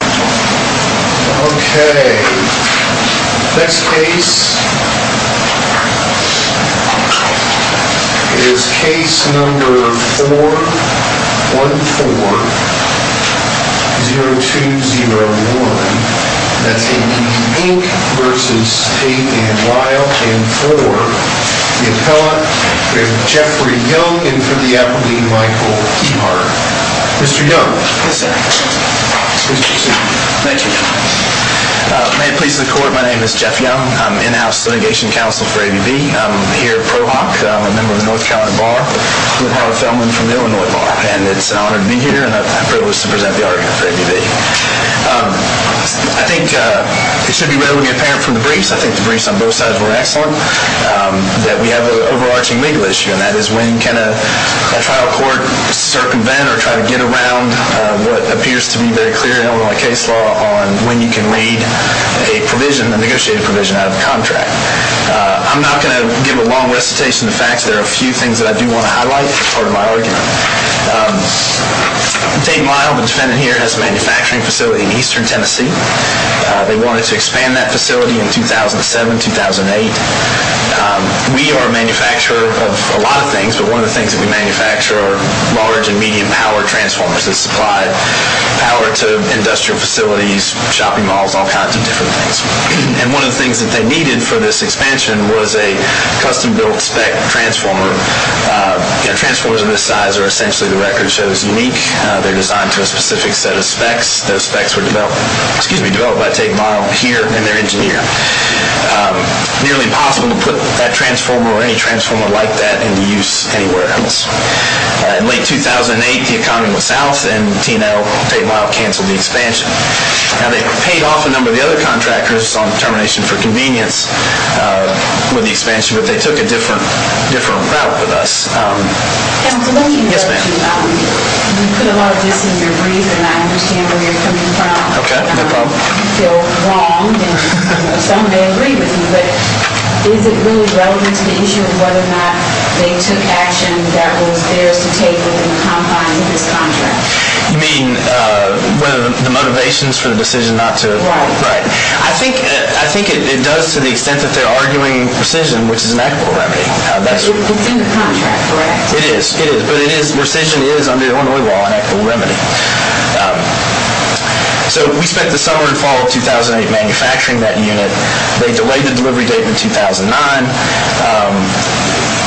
OK. Next case is Case No. 414-0201. That's ABB, Inc. v. Tate & Lyle. And for the appellant, we have Jeffrey Young. And for the applicant, Michael Ehart. Mr. Young. Yes, sir. Please proceed. Thank you, Your Honor. May it please the Court, my name is Jeff Young. I'm in-house litigation counsel for ABB. I'm here at ProHoc. I'm a member of the North Carolina Bar. I'm a part of a settlement from the Illinois Bar. And it's an honor to be here, and I'm privileged to present the argument for ABB. I think it should be readily apparent from the briefs, I think the briefs on both sides were excellent, that we have an overarching legal issue, and that is when can a trial court circumvent or try to get around what appears to be very clear in Illinois case law on when you can read a negotiated provision out of the contract. I'm not going to give a long recitation of facts. There are a few things that I do want to highlight as part of my argument. Tate & Lyle, the defendant here, has a manufacturing facility in eastern Tennessee. They wanted to expand that facility in 2007, 2008. We are a manufacturer of a lot of things, but one of the things that we manufacture are large and medium power transformers that supply power to industrial facilities, shopping malls, all kinds of different things. And one of the things that they needed for this expansion was a custom-built spec transformer. Transformers of this size are essentially the record shows unique. They're designed to a specific set of specs. Those specs were developed by Tate & Lyle here and their engineer. Nearly impossible to put that transformer or any transformer like that into use anywhere else. In late 2008, the economy was south, and Tate & Lyle canceled the expansion. Now, they paid off a number of the other contractors on termination for convenience with the expansion, but they took a different route with us. Yes, ma'am. You put a lot of this in your brief, and I understand where you're coming from. Okay, no problem. I feel wronged, and some may agree with me, but is it really relevant to the issue of whether or not they took action that was theirs to take within the confines of this contract? You mean the motivations for the decision not to? Right. I think it does to the extent that they're arguing precision, which is an equitable remedy. It's in the contract, correct? It is, but precision is, under Illinois law, an equitable remedy. We spent the summer and fall of 2008 manufacturing that unit. They delayed the delivery date to 2009.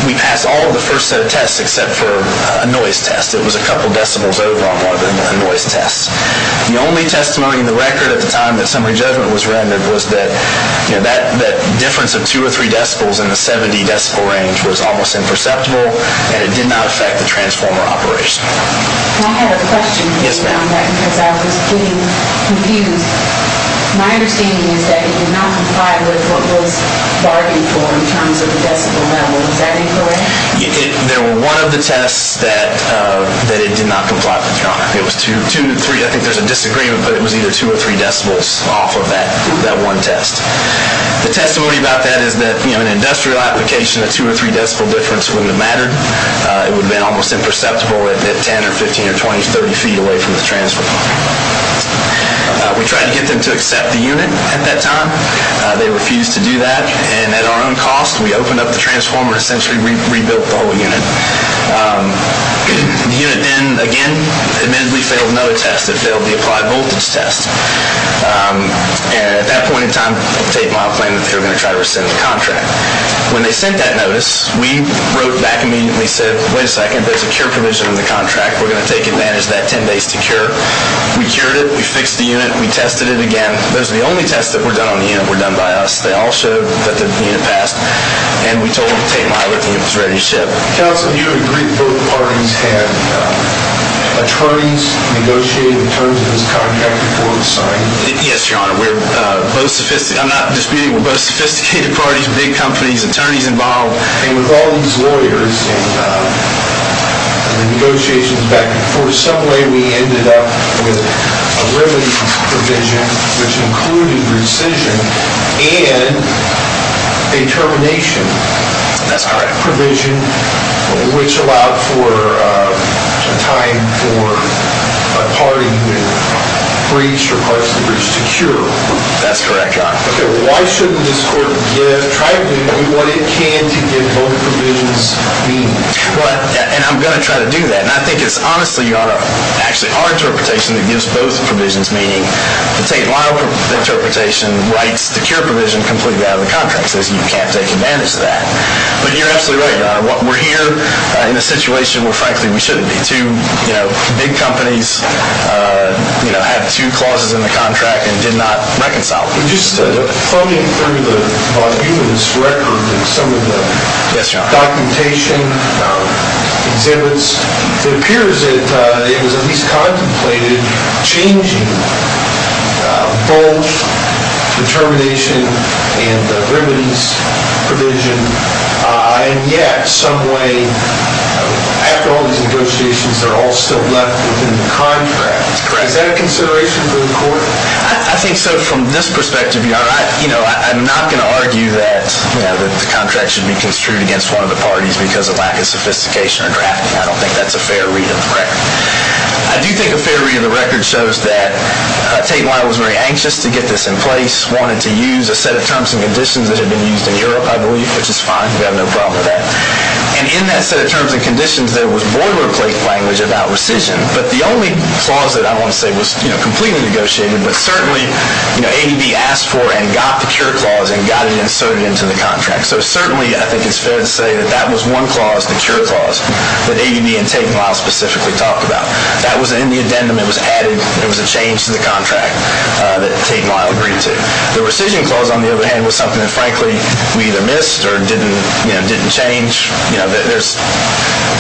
We passed all of the first set of tests except for a noise test. It was a couple of decibels over on one of the noise tests. The only testimony in the record at the time that summary judgment was rendered was that that difference of two or three decibels in the 70-decibel range was almost imperceptible, and it did not affect the transformer operation. Can I have a question? Yes, ma'am. Because I was getting confused. My understanding is that it did not comply with what was bargained for in terms of the decibel level. Does that make sense? I think there's a disagreement, but it was either two or three decibels off of that one test. The testimony about that is that in an industrial application, a two or three decibel difference wouldn't have mattered. It would have been almost imperceptible at 10 or 15 or 20 or 30 feet away from the transformer. We tried to get them to accept the unit at that time. They refused to do that. At our own cost, we opened up the transformer and essentially rebuilt the whole unit. The unit then, again, admittedly failed another test. It failed the applied voltage test. At that point in time, Tate and Mahler planned that they were going to try to rescind the contract. When they sent that notice, we wrote back immediately and said, wait a second, there's a cure provision in the contract. We're going to take advantage of that 10 days to cure. We cured it. We fixed the unit. We tested it again. Those were the only tests that were done on the unit were done by us. They all showed that the unit passed, and we told Tate and Mahler that the unit was ready to ship. Counsel, do you agree that both parties had attorneys negotiate in terms of this contract before it was signed? Yes, Your Honor. I'm not disputing. We're both sophisticated parties, big companies, attorneys involved. With all these lawyers and the negotiations back and forth, some way we ended up with a remedies provision which included rescission and a termination provision. That's correct. Which allowed for time for a party who had breached or partially breached to cure. That's correct, Your Honor. Okay. Why shouldn't this Court try to do what it can to give both provisions meaning? Well, and I'm going to try to do that. And I think it's honestly, Your Honor, actually our interpretation that gives both provisions meaning. Tate and Mahler's interpretation writes the cure provision completely out of the contract. It says you can't take advantage of that. But you're absolutely right, Your Honor. We're here in a situation where, frankly, we shouldn't be. Two big companies had two clauses in the contract and did not reconcile. Just floating through the voluminous record and some of the documentation exhibits, it appears that it was at least contemplated changing both the termination and the remedies provision. And yet some way, after all these negotiations, they're all still left within the contract. I think so from this perspective, Your Honor. I'm not going to argue that the contract should be construed against one of the parties because of lack of sophistication or drafting. I don't think that's a fair read of the record. I do think a fair read of the record shows that Tate and Mahler was very anxious to get this in place, wanted to use a set of terms and conditions that had been used in Europe, I believe, which is fine. We have no problem with that. And in that set of terms and conditions, there was boilerplate language about rescission. But the only clause that I want to say was completely negotiated, but certainly ADB asked for and got the cure clause and got it inserted into the contract. So certainly I think it's fair to say that that was one clause, the cure clause, that ADB and Tate and Mahler specifically talked about. That was in the addendum. It was added. It was a change to the contract that Tate and Mahler agreed to. The rescission clause, on the other hand, was something that, frankly, we either missed or didn't change. There's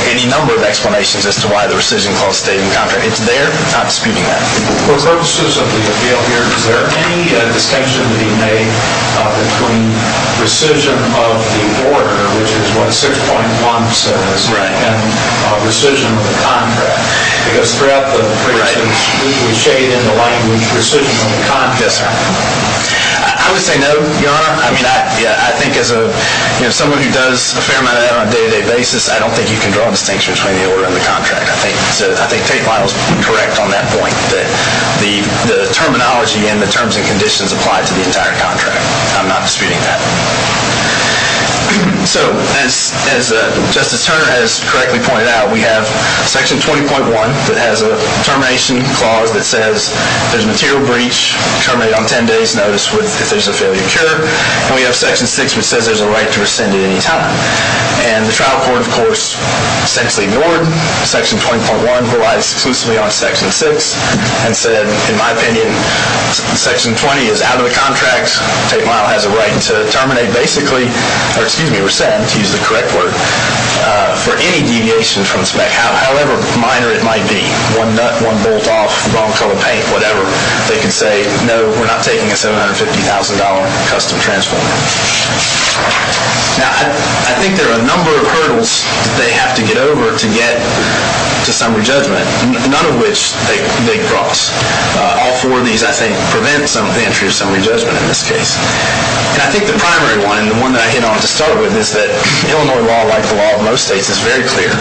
any number of explanations as to why the rescission clause stayed in the contract. It's there. I'm disputing that. For purposes of the appeal here, is there any distinction to be made between rescission of the order, which is what 6.1 says, and rescission of the contract? Because throughout the presentation, we shaded in the language rescission of the contract. I would say no, Your Honor. I think as someone who does a fair amount of that on a day-to-day basis, I don't think you can draw a distinction between the order and the contract. I think Tate and Mahler were correct on that point, that the terminology and the terms and conditions applied to the entire contract. I'm not disputing that. So, as Justice Turner has correctly pointed out, we have Section 20.1 that has a termination clause that says if there's a material breach, terminate on 10 days' notice if there's a failure to cure. And we have Section 6, which says there's a right to rescind at any time. And the trial court, of course, essentially ignored Section 20.1, which relies exclusively on Section 6, and said, in my opinion, Section 20 is out of the contract. Tate and Mahler has a right to terminate basically—or, excuse me, rescind, to use the correct word, for any deviation from spec, however minor it might be. One nut, one bolt off, wrong color paint, whatever. They can say, no, we're not taking a $750,000 custom transformer. Now, I think there are a number of hurdles that they have to get over to get to summary judgment, none of which they cross. All four of these, I think, prevent some of the entry of summary judgment in this case. And I think the primary one, and the one that I hit on to start with, is that Illinois law, like the law of most states, is very clear.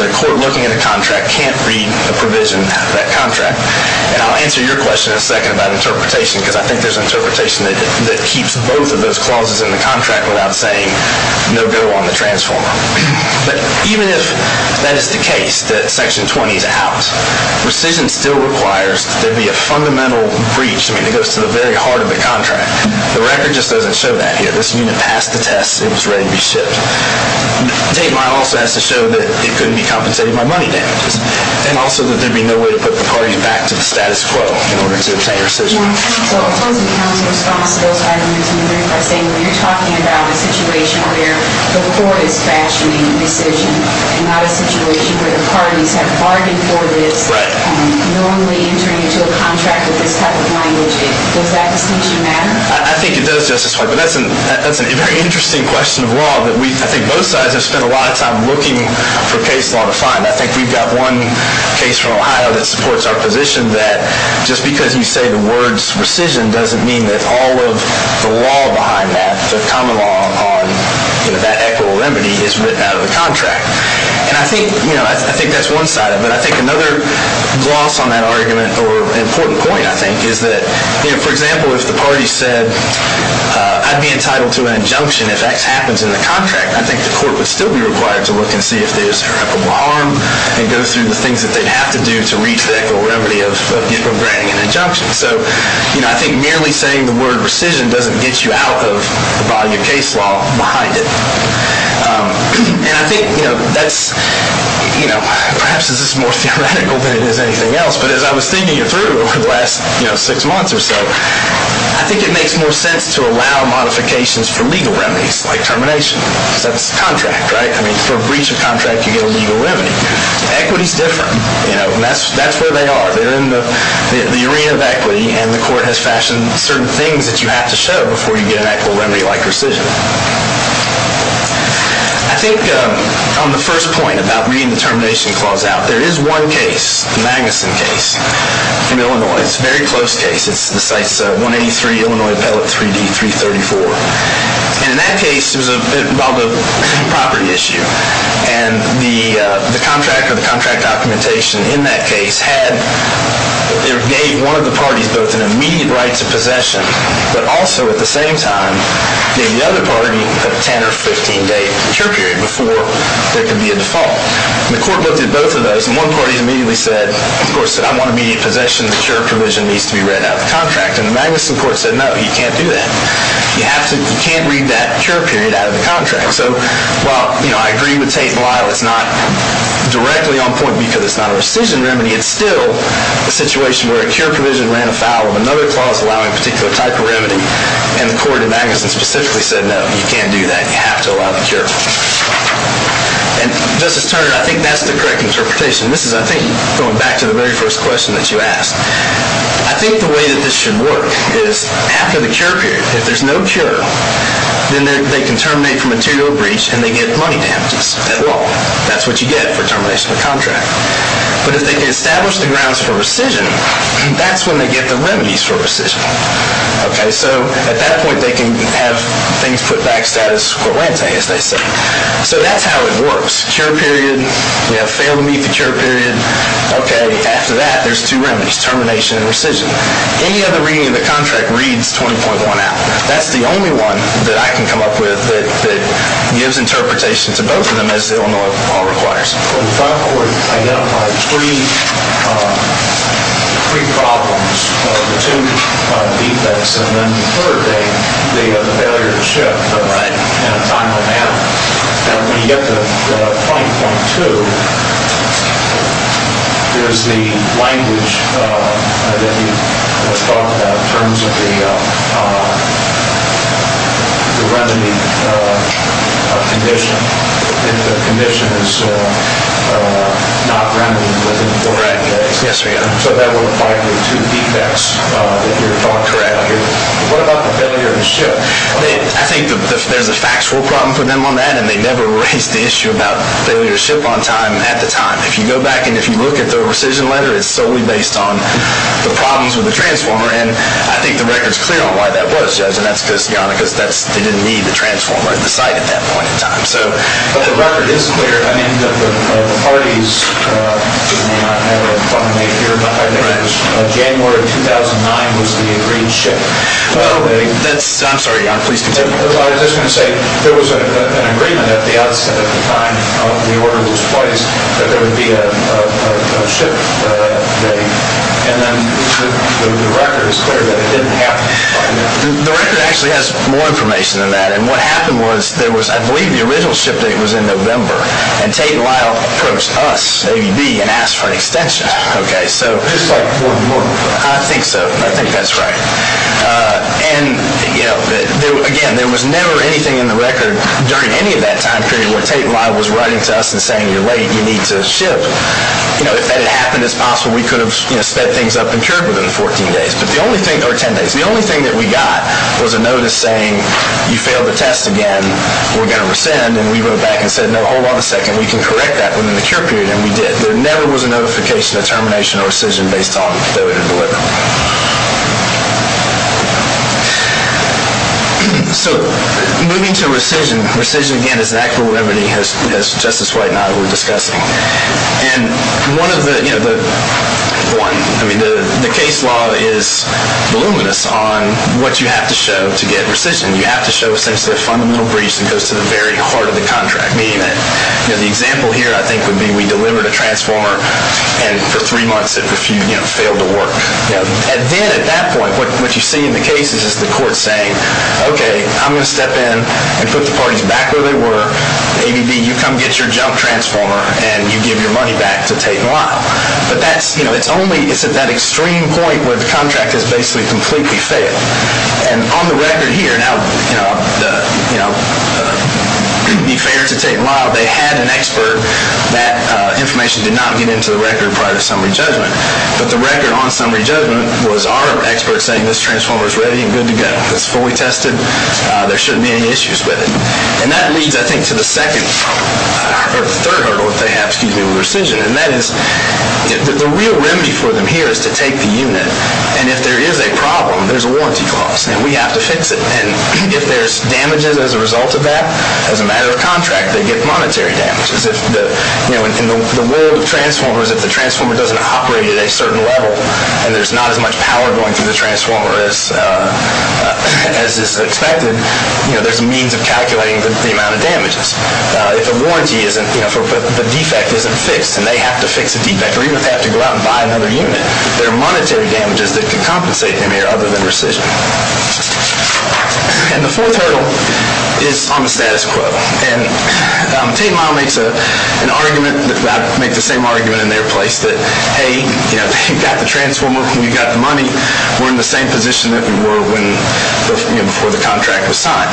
The court looking at a contract can't read a provision out of that contract. And I'll answer your question in a second about interpretation, because I think there's an interpretation that keeps both of those clauses in the contract without saying, no go on the transformer. But even if that is the case, that section 20 is out, rescission still requires that there be a fundamental breach. I mean, it goes to the very heart of the contract. The record just doesn't show that here. This unit passed the test. It was ready to be shipped. Tate and Mahler also has to show that it couldn't be compensated by money damages, and also that there'd be no way to put McCarty back to the status quo in order to obtain rescission. So opposing counsel's response to those items is either by saying, well, you're talking about a situation where the court is fashioning a decision, and not a situation where the parties have bargained for this. Right. Normally entering into a contract with this type of language, does that distinction matter? I think it does, Justice White. But that's a very interesting question of law that I think both sides have spent a lot of time looking for case law to find. I think we've got one case from Ohio that supports our position that just because you say the words rescission doesn't mean that all of the law behind that, the common law on that equitable remedy, is written out of the contract. And I think that's one side of it. I think another gloss on that argument, or important point, I think, is that, for example, if the party said, I'd be entitled to an injunction if X happens in the contract, I think the court would still be required to look and see if there's irreparable harm, and go through the things that they'd have to do to reach the equitable remedy of granting an injunction. So I think merely saying the word rescission doesn't get you out of the body of case law behind it. And I think perhaps this is more theoretical than it is anything else. But as I was thinking it through over the last six months or so, I think it makes more sense to allow modifications for legal remedies, like termination. Because that's a contract, right? I mean, for a breach of contract, you get a legal remedy. Equity's different. And that's where they are. They're in the arena of equity, and the court has fashioned certain things that you have to show before you get an equitable remedy like rescission. I think on the first point about reading the termination clause out, there is one case, the Magnuson case, in Illinois. It's a very close case. The site's 183 Illinois Pellet 3D, 334. And in that case, it was about a property issue. And the contract or the contract documentation in that case had or gave one of the parties both an immediate right to possession, but also at the same time gave the other party a 10- or 15-day cure period before there could be a default. And the court looked at both of those, and one party immediately said, the court said, I want immediate possession. The cure provision needs to be read out of the contract. And the Magnuson court said, no, you can't do that. So while I agree with Tate and Lyle, it's not directly on point because it's not a rescission remedy, it's still a situation where a cure provision ran afoul of another clause allowing a particular type of remedy. And the court in Magnuson specifically said, no, you can't do that. You have to allow the cure. And, Justice Turner, I think that's the correct interpretation. This is, I think, going back to the very first question that you asked. I think the way that this should work is after the cure period, if there's no cure, then they can terminate for material breach, and they get money damages at law. That's what you get for termination of a contract. But if they can establish the grounds for rescission, that's when they get the remedies for rescission. So at that point, they can have things put back status quo ante, as they say. So that's how it works. We have failed to meet the cure period. Okay. After that, there's two remedies, termination and rescission. Any other reading of the contract reads 20.1 out. That's the only one that I can come up with that gives interpretation to both of them as they all know it all requires. The front court identified three problems, the two defects, and then the third, the failure to shift in a timely manner. And when you get to 20.2, there's the language that you talked about in terms of the remedy condition. If the condition is not remedied within four days. Yes, Your Honor. So that would apply to the two defects that you're talking about. Correct. What about the failure to shift? I think there's a factual problem for them on that, and they never raised the issue about failure to shift on time at the time. If you go back and if you look at the rescission letter, it's solely based on the problems with the transformer, and I think the record's clear on why that was, Judge, and that's because they didn't need the transformer at the site at that point in time. But the record is clear. I mean, the parties did not have a final date here, but I think it was January of 2009 was the agreed shift date. I'm sorry, Your Honor, please continue. I was just going to say there was an agreement at the outset of the time of the order that was placed that there would be a shift date, and then the record is clear that it didn't happen. The record actually has more information than that, and what happened was there was, I believe, the original shift date was in November, and Tate and Lyle approached us, ABB, and asked for an extension. Just like Fort Worth? I think so. I think that's right. Again, there was never anything in the record during any of that time period where Tate and Lyle was writing to us and saying, You're late. You need to shift. If that had happened, it's possible we could have sped things up and cured within the 14 days or 10 days. The only thing that we got was a notice saying, You failed the test again. We're going to rescind, and we wrote back and said, No, hold on a second. We can correct that within the cure period, and we did. There never was a notification of termination or rescission based on that we had delivered. So moving to rescission, rescission, again, is an act of liberty, as Justice White and I were discussing. The case law is voluminous on what you have to show to get rescission. You have to show essentially a fundamental breach that goes to the very heart of the contract, meaning that the example here, I think, would be we delivered a transformer, and for three months it failed to work. Then at that point, what you see in the case is the court saying, Okay, I'm going to step in and put the parties back where they were. A, B, D, you come get your junk transformer, and you give your money back to Tate and Lyle. But it's at that extreme point where the contract has basically completely failed. And on the record here, now, to be fair to Tate and Lyle, they had an expert. That information did not get into the record prior to summary judgment. But the record on summary judgment was our expert saying this transformer is ready and good to go. It's fully tested. There shouldn't be any issues with it. And that leads, I think, to the third hurdle that they have with rescission. And that is the real remedy for them here is to take the unit. And if there is a problem, there's a warranty clause, and we have to fix it. And if there's damages as a result of that, as a matter of contract, they get monetary damages. In the world of transformers, if the transformer doesn't operate at a certain level, and there's not as much power going through the transformer as is expected, there's a means of calculating the amount of damages. If the defect isn't fixed and they have to fix the defect, or even if they have to go out and buy another unit, there are monetary damages that could compensate them here other than rescission. And the fourth hurdle is on the status quo. And Tate and Lyle make the same argument in their place that, hey, you've got the transformer. We've got the money. We're in the same position that we were before the contract was signed.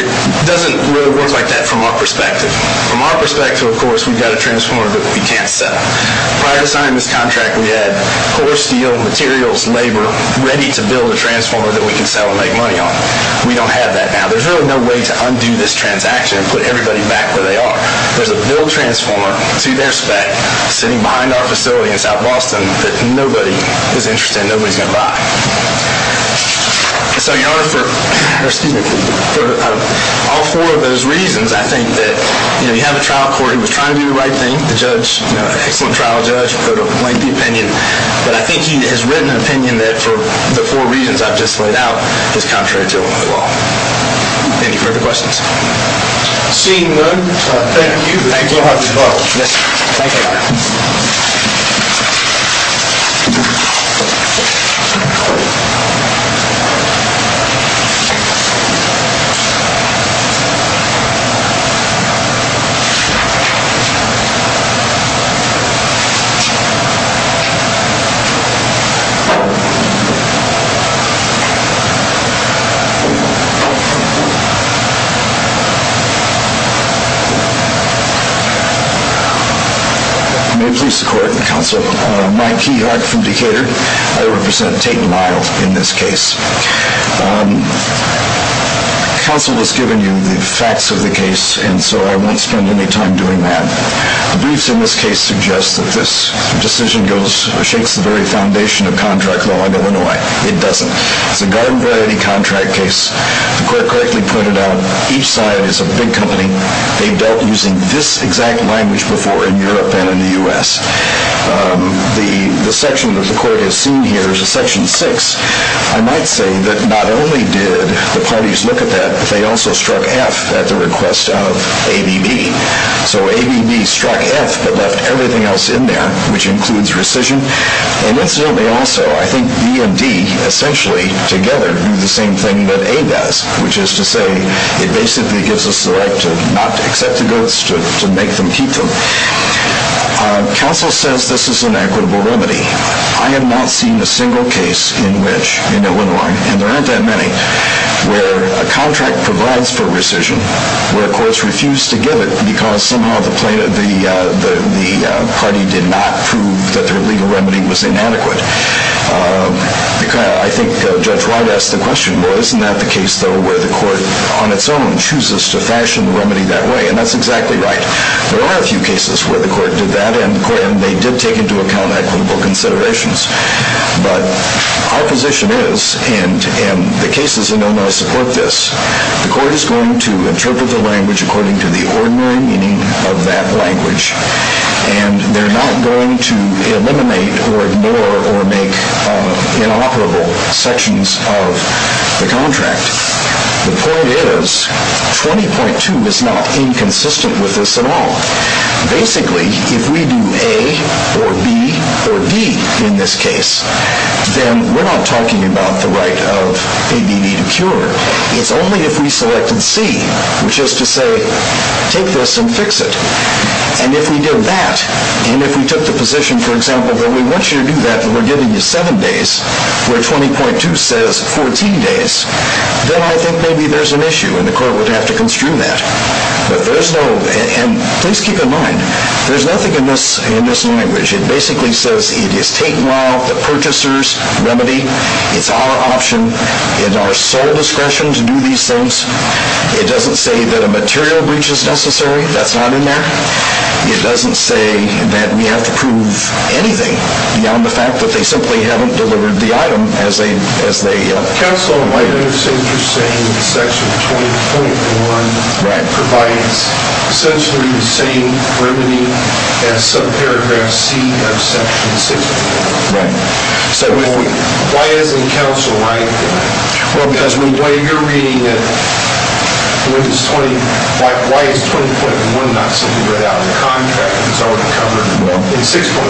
It doesn't really work like that from our perspective. From our perspective, of course, we've got a transformer that we can't sell. Prior to signing this contract, we had horse, steel, materials, labor, ready to build a transformer that we can sell and make money on. We don't have that now. There's really no way to undo this transaction and put everybody back where they are. There's a build transformer to their spec sitting behind our facility in South Boston that nobody is interested in. Nobody is going to buy. So in order for all four of those reasons, I think that you have a trial court who was trying to do the right thing. The judge, an excellent trial judge, put a lengthy opinion. But I think he has written an opinion that, for the four reasons I've just laid out, is contrary to Illinois law. Any further questions? Seeing none, thank you. Thank you. Thank you. Thank you. May it please the court and counsel, I'm Mike Keyhart from Decatur. I represent Tate & Lyle in this case. Counsel has given you the facts of the case, and so I won't spend any time doing that. The briefs in this case suggest that this decision shakes the very foundation of contract law in Illinois. It doesn't. It's a garden variety contract case. The court correctly pointed out each side is a big company. They've dealt using this exact language before in Europe and in the U.S. The section that the court has seen here is a section 6. I might say that not only did the parties look at that, but they also struck F at the request of ABB. So ABB struck F but left everything else in there, which includes rescission. And incidentally also, I think B and D essentially together do the same thing that A does, which is to say it basically gives us the right to not accept the goats, to make them keep them. Counsel says this is an equitable remedy. I have not seen a single case in Illinois, and there aren't that many, where a contract provides for rescission, where courts refuse to give it because somehow the party did not prove that their legal remedy was inadequate. I think Judge Wright asked the question, well, isn't that the case, though, where the court on its own chooses to fashion the remedy that way? And that's exactly right. There are a few cases where the court did that, and they did take into account equitable considerations. But our position is, and the cases in Illinois support this, the court is going to interpret the language according to the ordinary meaning of that language, and they're not going to eliminate or ignore or make inoperable sections of the contract. The point is, 20.2 is not inconsistent with this at all. Basically, if we do A or B or D in this case, then we're not talking about the right of ABB to cure. It's only if we selected C, which is to say, take this and fix it. And if we did that, and if we took the position, for example, that we want you to do that, and we're giving you seven days, where 20.2 says 14 days, then I think maybe there's an issue, and the court would have to construe that. But there's no, and please keep in mind, there's nothing in this language. It basically says it is take-while, the purchaser's remedy. It's our option and our sole discretion to do these things. It doesn't say that a material breach is necessary. That's not in there. It doesn't say that we have to prove anything beyond the fact that they simply haven't delivered the item as they have. Counsel, in light of what you're saying, section 20.1 provides essentially the same remedy as subparagraph C of section 60. Right. Why isn't counsel right in that? Well, because when you're reading it, why is 20.1 not simply right out of the contract? It's already covered in 6.1.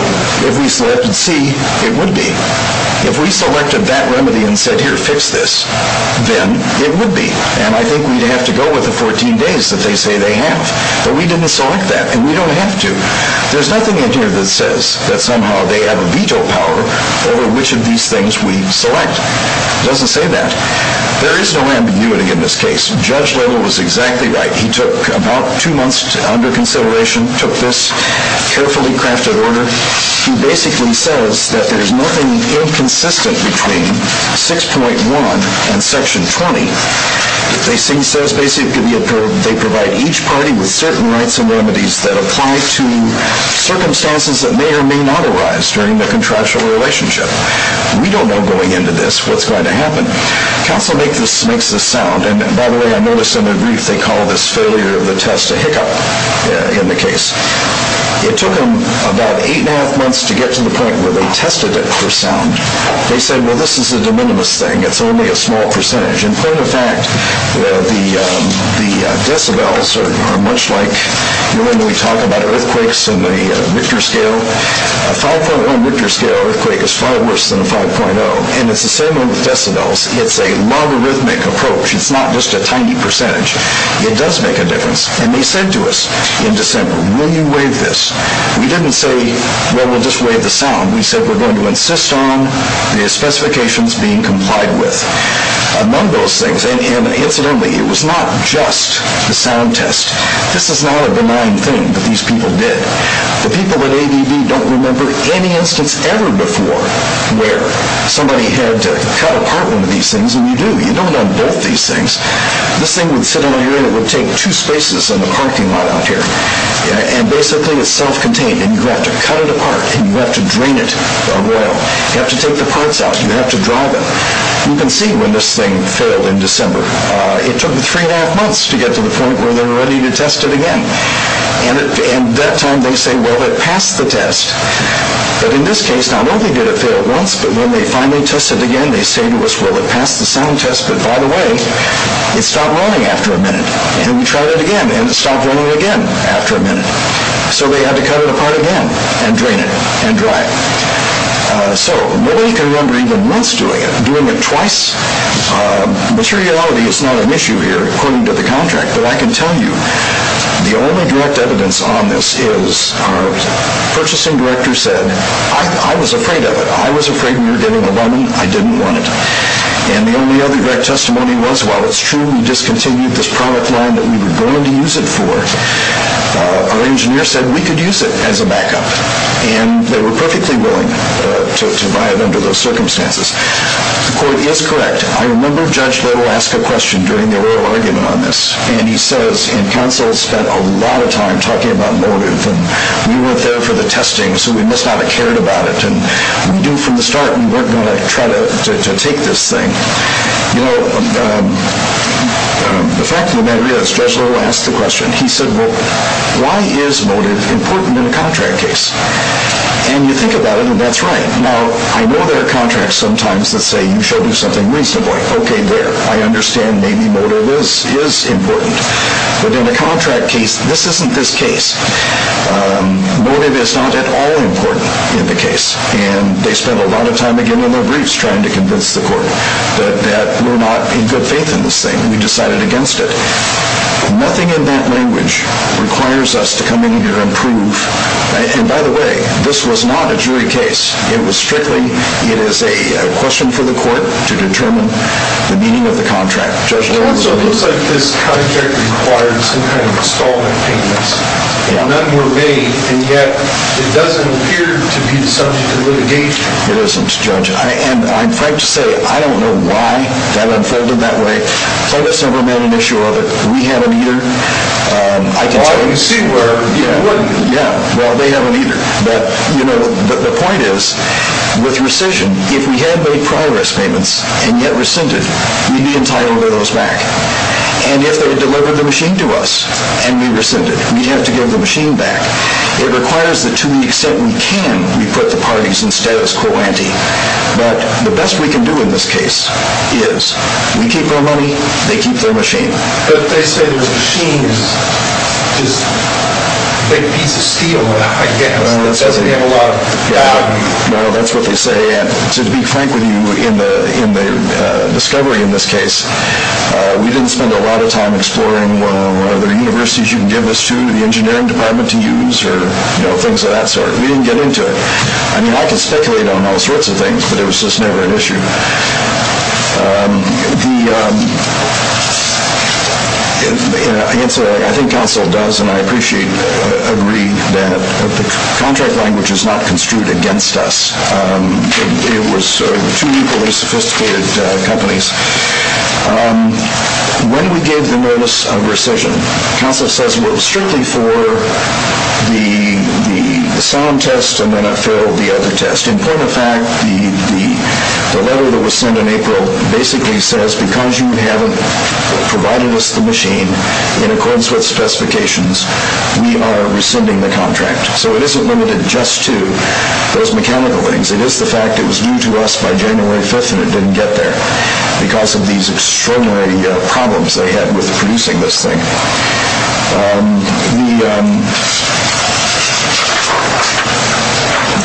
If we selected C, it would be. If we selected that remedy and said, here, fix this, then it would be. And I think we'd have to go with the 14 days that they say they have. But we didn't select that, and we don't have to. There's nothing in here that says that somehow they have a veto power over which of these things we select. It doesn't say that. There is no ambiguity in this case. Judge Little was exactly right. He took about two months under consideration, took this carefully crafted order. He basically says that there's nothing inconsistent between 6.1 and section 20. They provide each party with certain rights and remedies that apply to circumstances that may or may not arise during the contractual relationship. We don't know going into this what's going to happen. Counsel makes this sound. And, by the way, I noticed in the brief they call this failure of the test a hiccup in the case. It took them about eight and a half months to get to the point where they tested it for sound. They said, well, this is a de minimis thing. It's only a small percentage. In point of fact, the decibels are much like, you know when we talk about earthquakes and the Richter scale? A 5.1 Richter scale earthquake is far worse than a 5.0, and it's the same with decibels. It's a logarithmic approach. It's not just a tiny percentage. It does make a difference. And they said to us in December, will you waive this? We didn't say, well, we'll just waive the sound. We said we're going to insist on the specifications being complied with. Among those things, and incidentally, it was not just the sound test. This is not a benign thing that these people did. The people at ABB don't remember any instance ever before where somebody had to cut apart one of these things. And you do. You don't on both these things. This thing would sit on your head. It would take two spaces in the parking lot out here. And basically, it's self-contained, and you have to cut it apart, and you have to drain it of oil. You have to take the parts out. You have to dry them. You can see when this thing failed in December. It took them three and a half months to get to the point where they were ready to test it again. And at that time, they say, well, it passed the test. But in this case, not only did it fail once, but when they finally tested it again, they say to us, well, it passed the sound test. But by the way, it stopped running after a minute. And then we tried it again, and it stopped running again after a minute. So they had to cut it apart again and drain it and dry it. So nobody can remember even once doing it, doing it twice. Materiality is not an issue here, according to the contract. But I can tell you, the only direct evidence on this is our purchasing director said, I was afraid of it. I was afraid we were getting the money. I didn't want it. And the only other direct testimony was, while it's true we discontinued this product line that we were going to use it for, our engineer said we could use it as a backup. And they were perfectly willing to buy it under those circumstances. The court is correct. I remember Judge Little asked a question during the oral argument on this. And he says, and counsel spent a lot of time talking about motive. And we went there for the testing, so we must not have cared about it. And we knew from the start we weren't going to try to take this thing. You know, the fact of the matter is, Judge Little asked the question. He said, well, why is motive important in a contract case? And you think about it, and that's right. Now, I know there are contracts sometimes that say you should do something reasonably. Okay, there. I understand maybe motive is important. But in a contract case, this isn't this case. Motive is not at all important in the case. And they spent a lot of time, again, in their briefs trying to convince the court that we're not in good faith in this thing. We decided against it. Nothing in that language requires us to come in here and prove, and by the way, this was not a jury case. It was strictly, it is a question for the court to determine the meaning of the contract. It also looks like this contract required some kind of installment payments. None were made, and yet it doesn't appear to be the subject of litigation. It isn't, Judge. And I'm afraid to say I don't know why that unfolded that way. I guess I've never met an issue of it. We have an either. Well, you see where it would be. Yeah, well, they have an either. But, you know, the point is, with rescission, if we had made priorist payments and yet rescinded, we'd be entitled to those back. And if they delivered the machine to us and we rescinded, we'd have to give the machine back. It requires that to the extent we can, we put the parties in status quo ante. But the best we can do in this case is we keep their money, they keep their machine. But they say the machine is just a big piece of steel, I guess. It doesn't have a lot of value. No, that's what they say. And to be frank with you, in the discovery in this case, we didn't spend a lot of time exploring, well, are there universities you can give this to, the engineering department to use, or, you know, things of that sort. We didn't get into it. I mean, I could speculate on all sorts of things, but it was just never an issue. The answer, I think counsel does, and I appreciate, agree that the contract language is not construed against us. It was two equally sophisticated companies. When we gave the notice of rescission, counsel says it was strictly for the sound test and then I filled the other test. In point of fact, the letter that was sent in April basically says because you haven't provided us the machine in accordance with specifications, we are rescinding the contract. So it isn't limited just to those mechanical things. It is the fact it was due to us by January 5th and it didn't get there because of these extraordinary problems they had with producing this thing.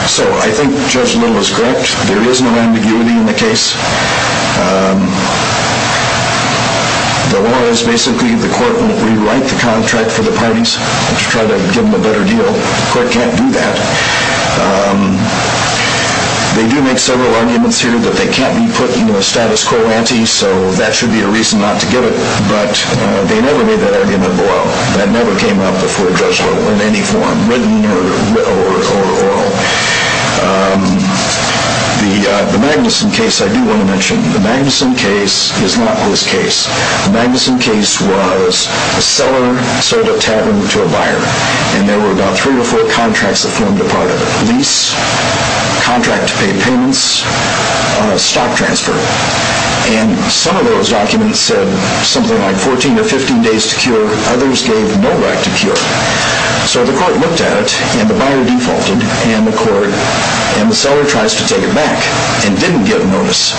So I think Judge Little is correct. There is no ambiguity in the case. The law is basically the court will rewrite the contract for the parties to try to give them a better deal. The court can't do that. They do make several arguments here that they can't be put in the status quo ante, so that should be a reason not to give it. But they never made that argument below. That never came up before Judge Little in any form, written or oral. The Magnuson case I do want to mention. The Magnuson case is not his case. The Magnuson case was a seller sold a tavern to a buyer, and there were about three or four contracts that formed a part of it. Lease, contract to pay payments, stock transfer. And some of those documents said something like 14 or 15 days to cure. Others gave no right to cure. So the court looked at it, and the buyer defaulted, and the seller tries to take it back and didn't give notice.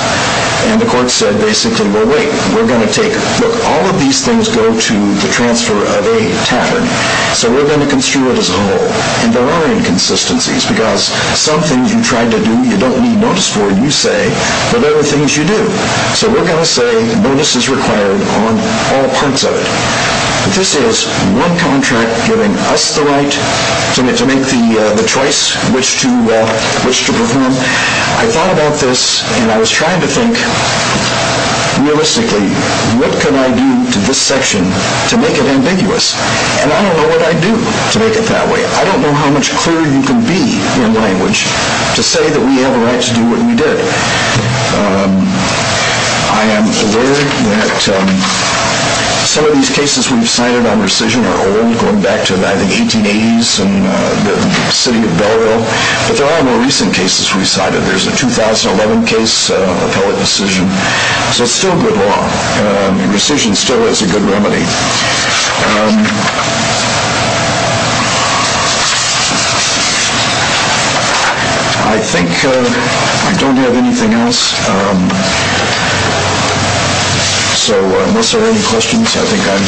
And the court said basically, well, wait, we're going to take it. Look, all of these things go to the transfer of a tavern, so we're going to construe it as a whole. And there are inconsistencies, because some things you try to do you don't need notice for. You say, but there are things you do. So we're going to say bonus is required on all parts of it. But this is one contract giving us the right to make the choice which to perform. I thought about this, and I was trying to think realistically, what can I do to this section to make it ambiguous? And I don't know what I'd do to make it that way. I don't know how much clearer you can be in language to say that we have a right to do what we did. I am aware that some of these cases we've cited on rescission are old, going back to, I think, 1880s and the city of Belleville. But there are more recent cases we've cited. There's a 2011 case, appellate rescission. So it's still good law, and rescission still is a good remedy. I think I don't have anything else. So unless there are any questions, I think I'm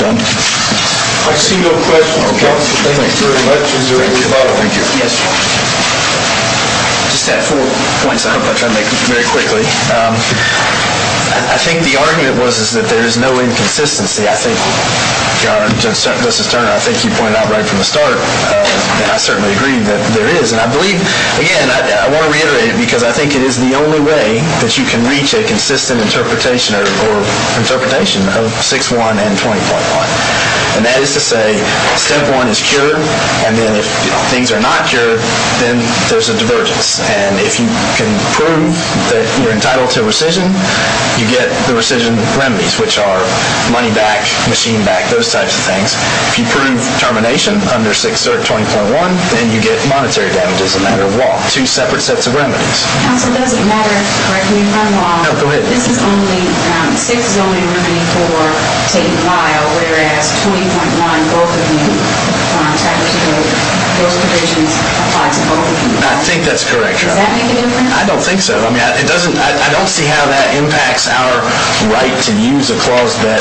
done. I see no questions. Thank you very much. Thank you. Thank you. Yes. Just to add four points, I hope I try to make them very quickly. I think the argument was that there is no inconsistency. I think, Justice Turner, I think you pointed out right from the start. I certainly agree that there is. And I believe, again, I want to reiterate it because I think it is the only way that you can reach a consistent interpretation or interpretation of 6.1 and 20.1. And that is to say step one is cured, and then if things are not cured, then there's a divergence. And if you can prove that you're entitled to rescission, you get the rescission remedies, which are money back, machine back, those types of things. If you prove termination under 6.0 and 20.1, then you get monetary damages as a matter of law, two separate sets of remedies. Counsel, does it matter? Correct me if I'm wrong. No, go ahead. This is only ‑‑ 6.0 is only a remedy for taking a while, whereas 20.1, both of you, technically those provisions apply to both of you. I think that's correct, Your Honor. Does that make a difference? I don't think so. I mean, I don't see how that impacts our right to use a clause that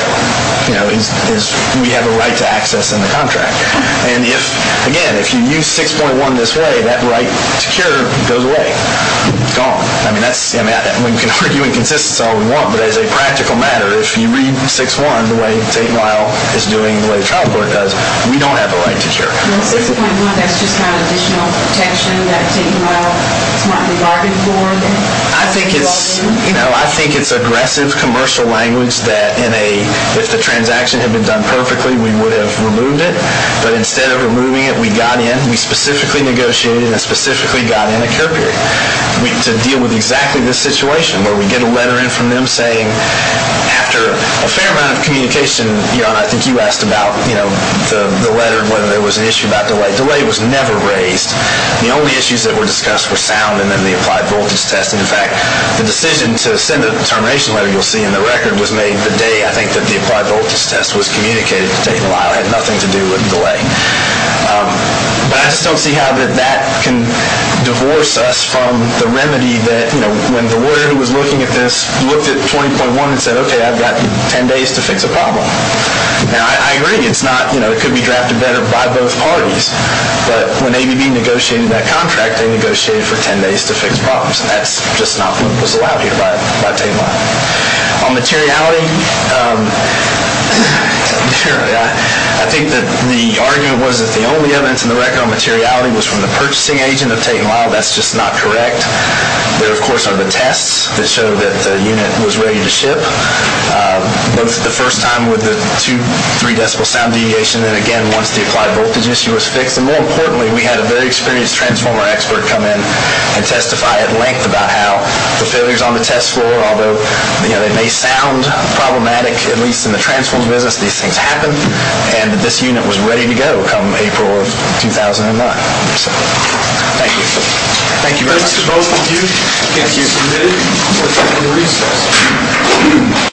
we have a right to access in the contract. And, again, if you use 6.1 this way, that right to cure goes away, gone. I mean, we can argue in consistency all we want, but as a practical matter, if you read 6.1 the way taking a while is doing, the way the trial court does, we don't have a right to cure. Well, 6.1, that's just kind of additional protection that taking a while is what we bargained for then? I think it's aggressive commercial language that if the transaction had been done perfectly, we would have removed it. But instead of removing it, we got in. We specifically negotiated and specifically got in a cure period to deal with exactly this situation, where we get a letter in from them saying after a fair amount of communication, Your Honor, I think you asked about the letter, whether there was an issue about delay. Delay was never raised. The only issues that were discussed were sound and then the applied voltage test. In fact, the decision to send a termination letter, you'll see in the record, was made the day, I think, that the applied voltage test was communicated to take a while. It had nothing to do with delay. But I just don't see how that can divorce us from the remedy that when the lawyer who was looking at this looked at 20.1 and said, okay, I've got 10 days to fix a problem. And I agree, it could be drafted better by both parties. But when ABB negotiated that contract, they negotiated for 10 days to fix problems. And that's just not what was allowed here by taking a while. On materiality, I think that the argument was that the only evidence in the record on materiality was from the purchasing agent of taking a while. That's just not correct. There, of course, are the tests that show that the unit was ready to ship, both the first time with the two, three decibel sound deviation, and again, once the applied voltage issue was fixed. And more importantly, we had a very experienced transformer expert come in and testify at length about how the failures on the test floor, although they may sound problematic, at least in the transformer business, these things happen. And that this unit was ready to go come April of 2009. Thank you. Thank you.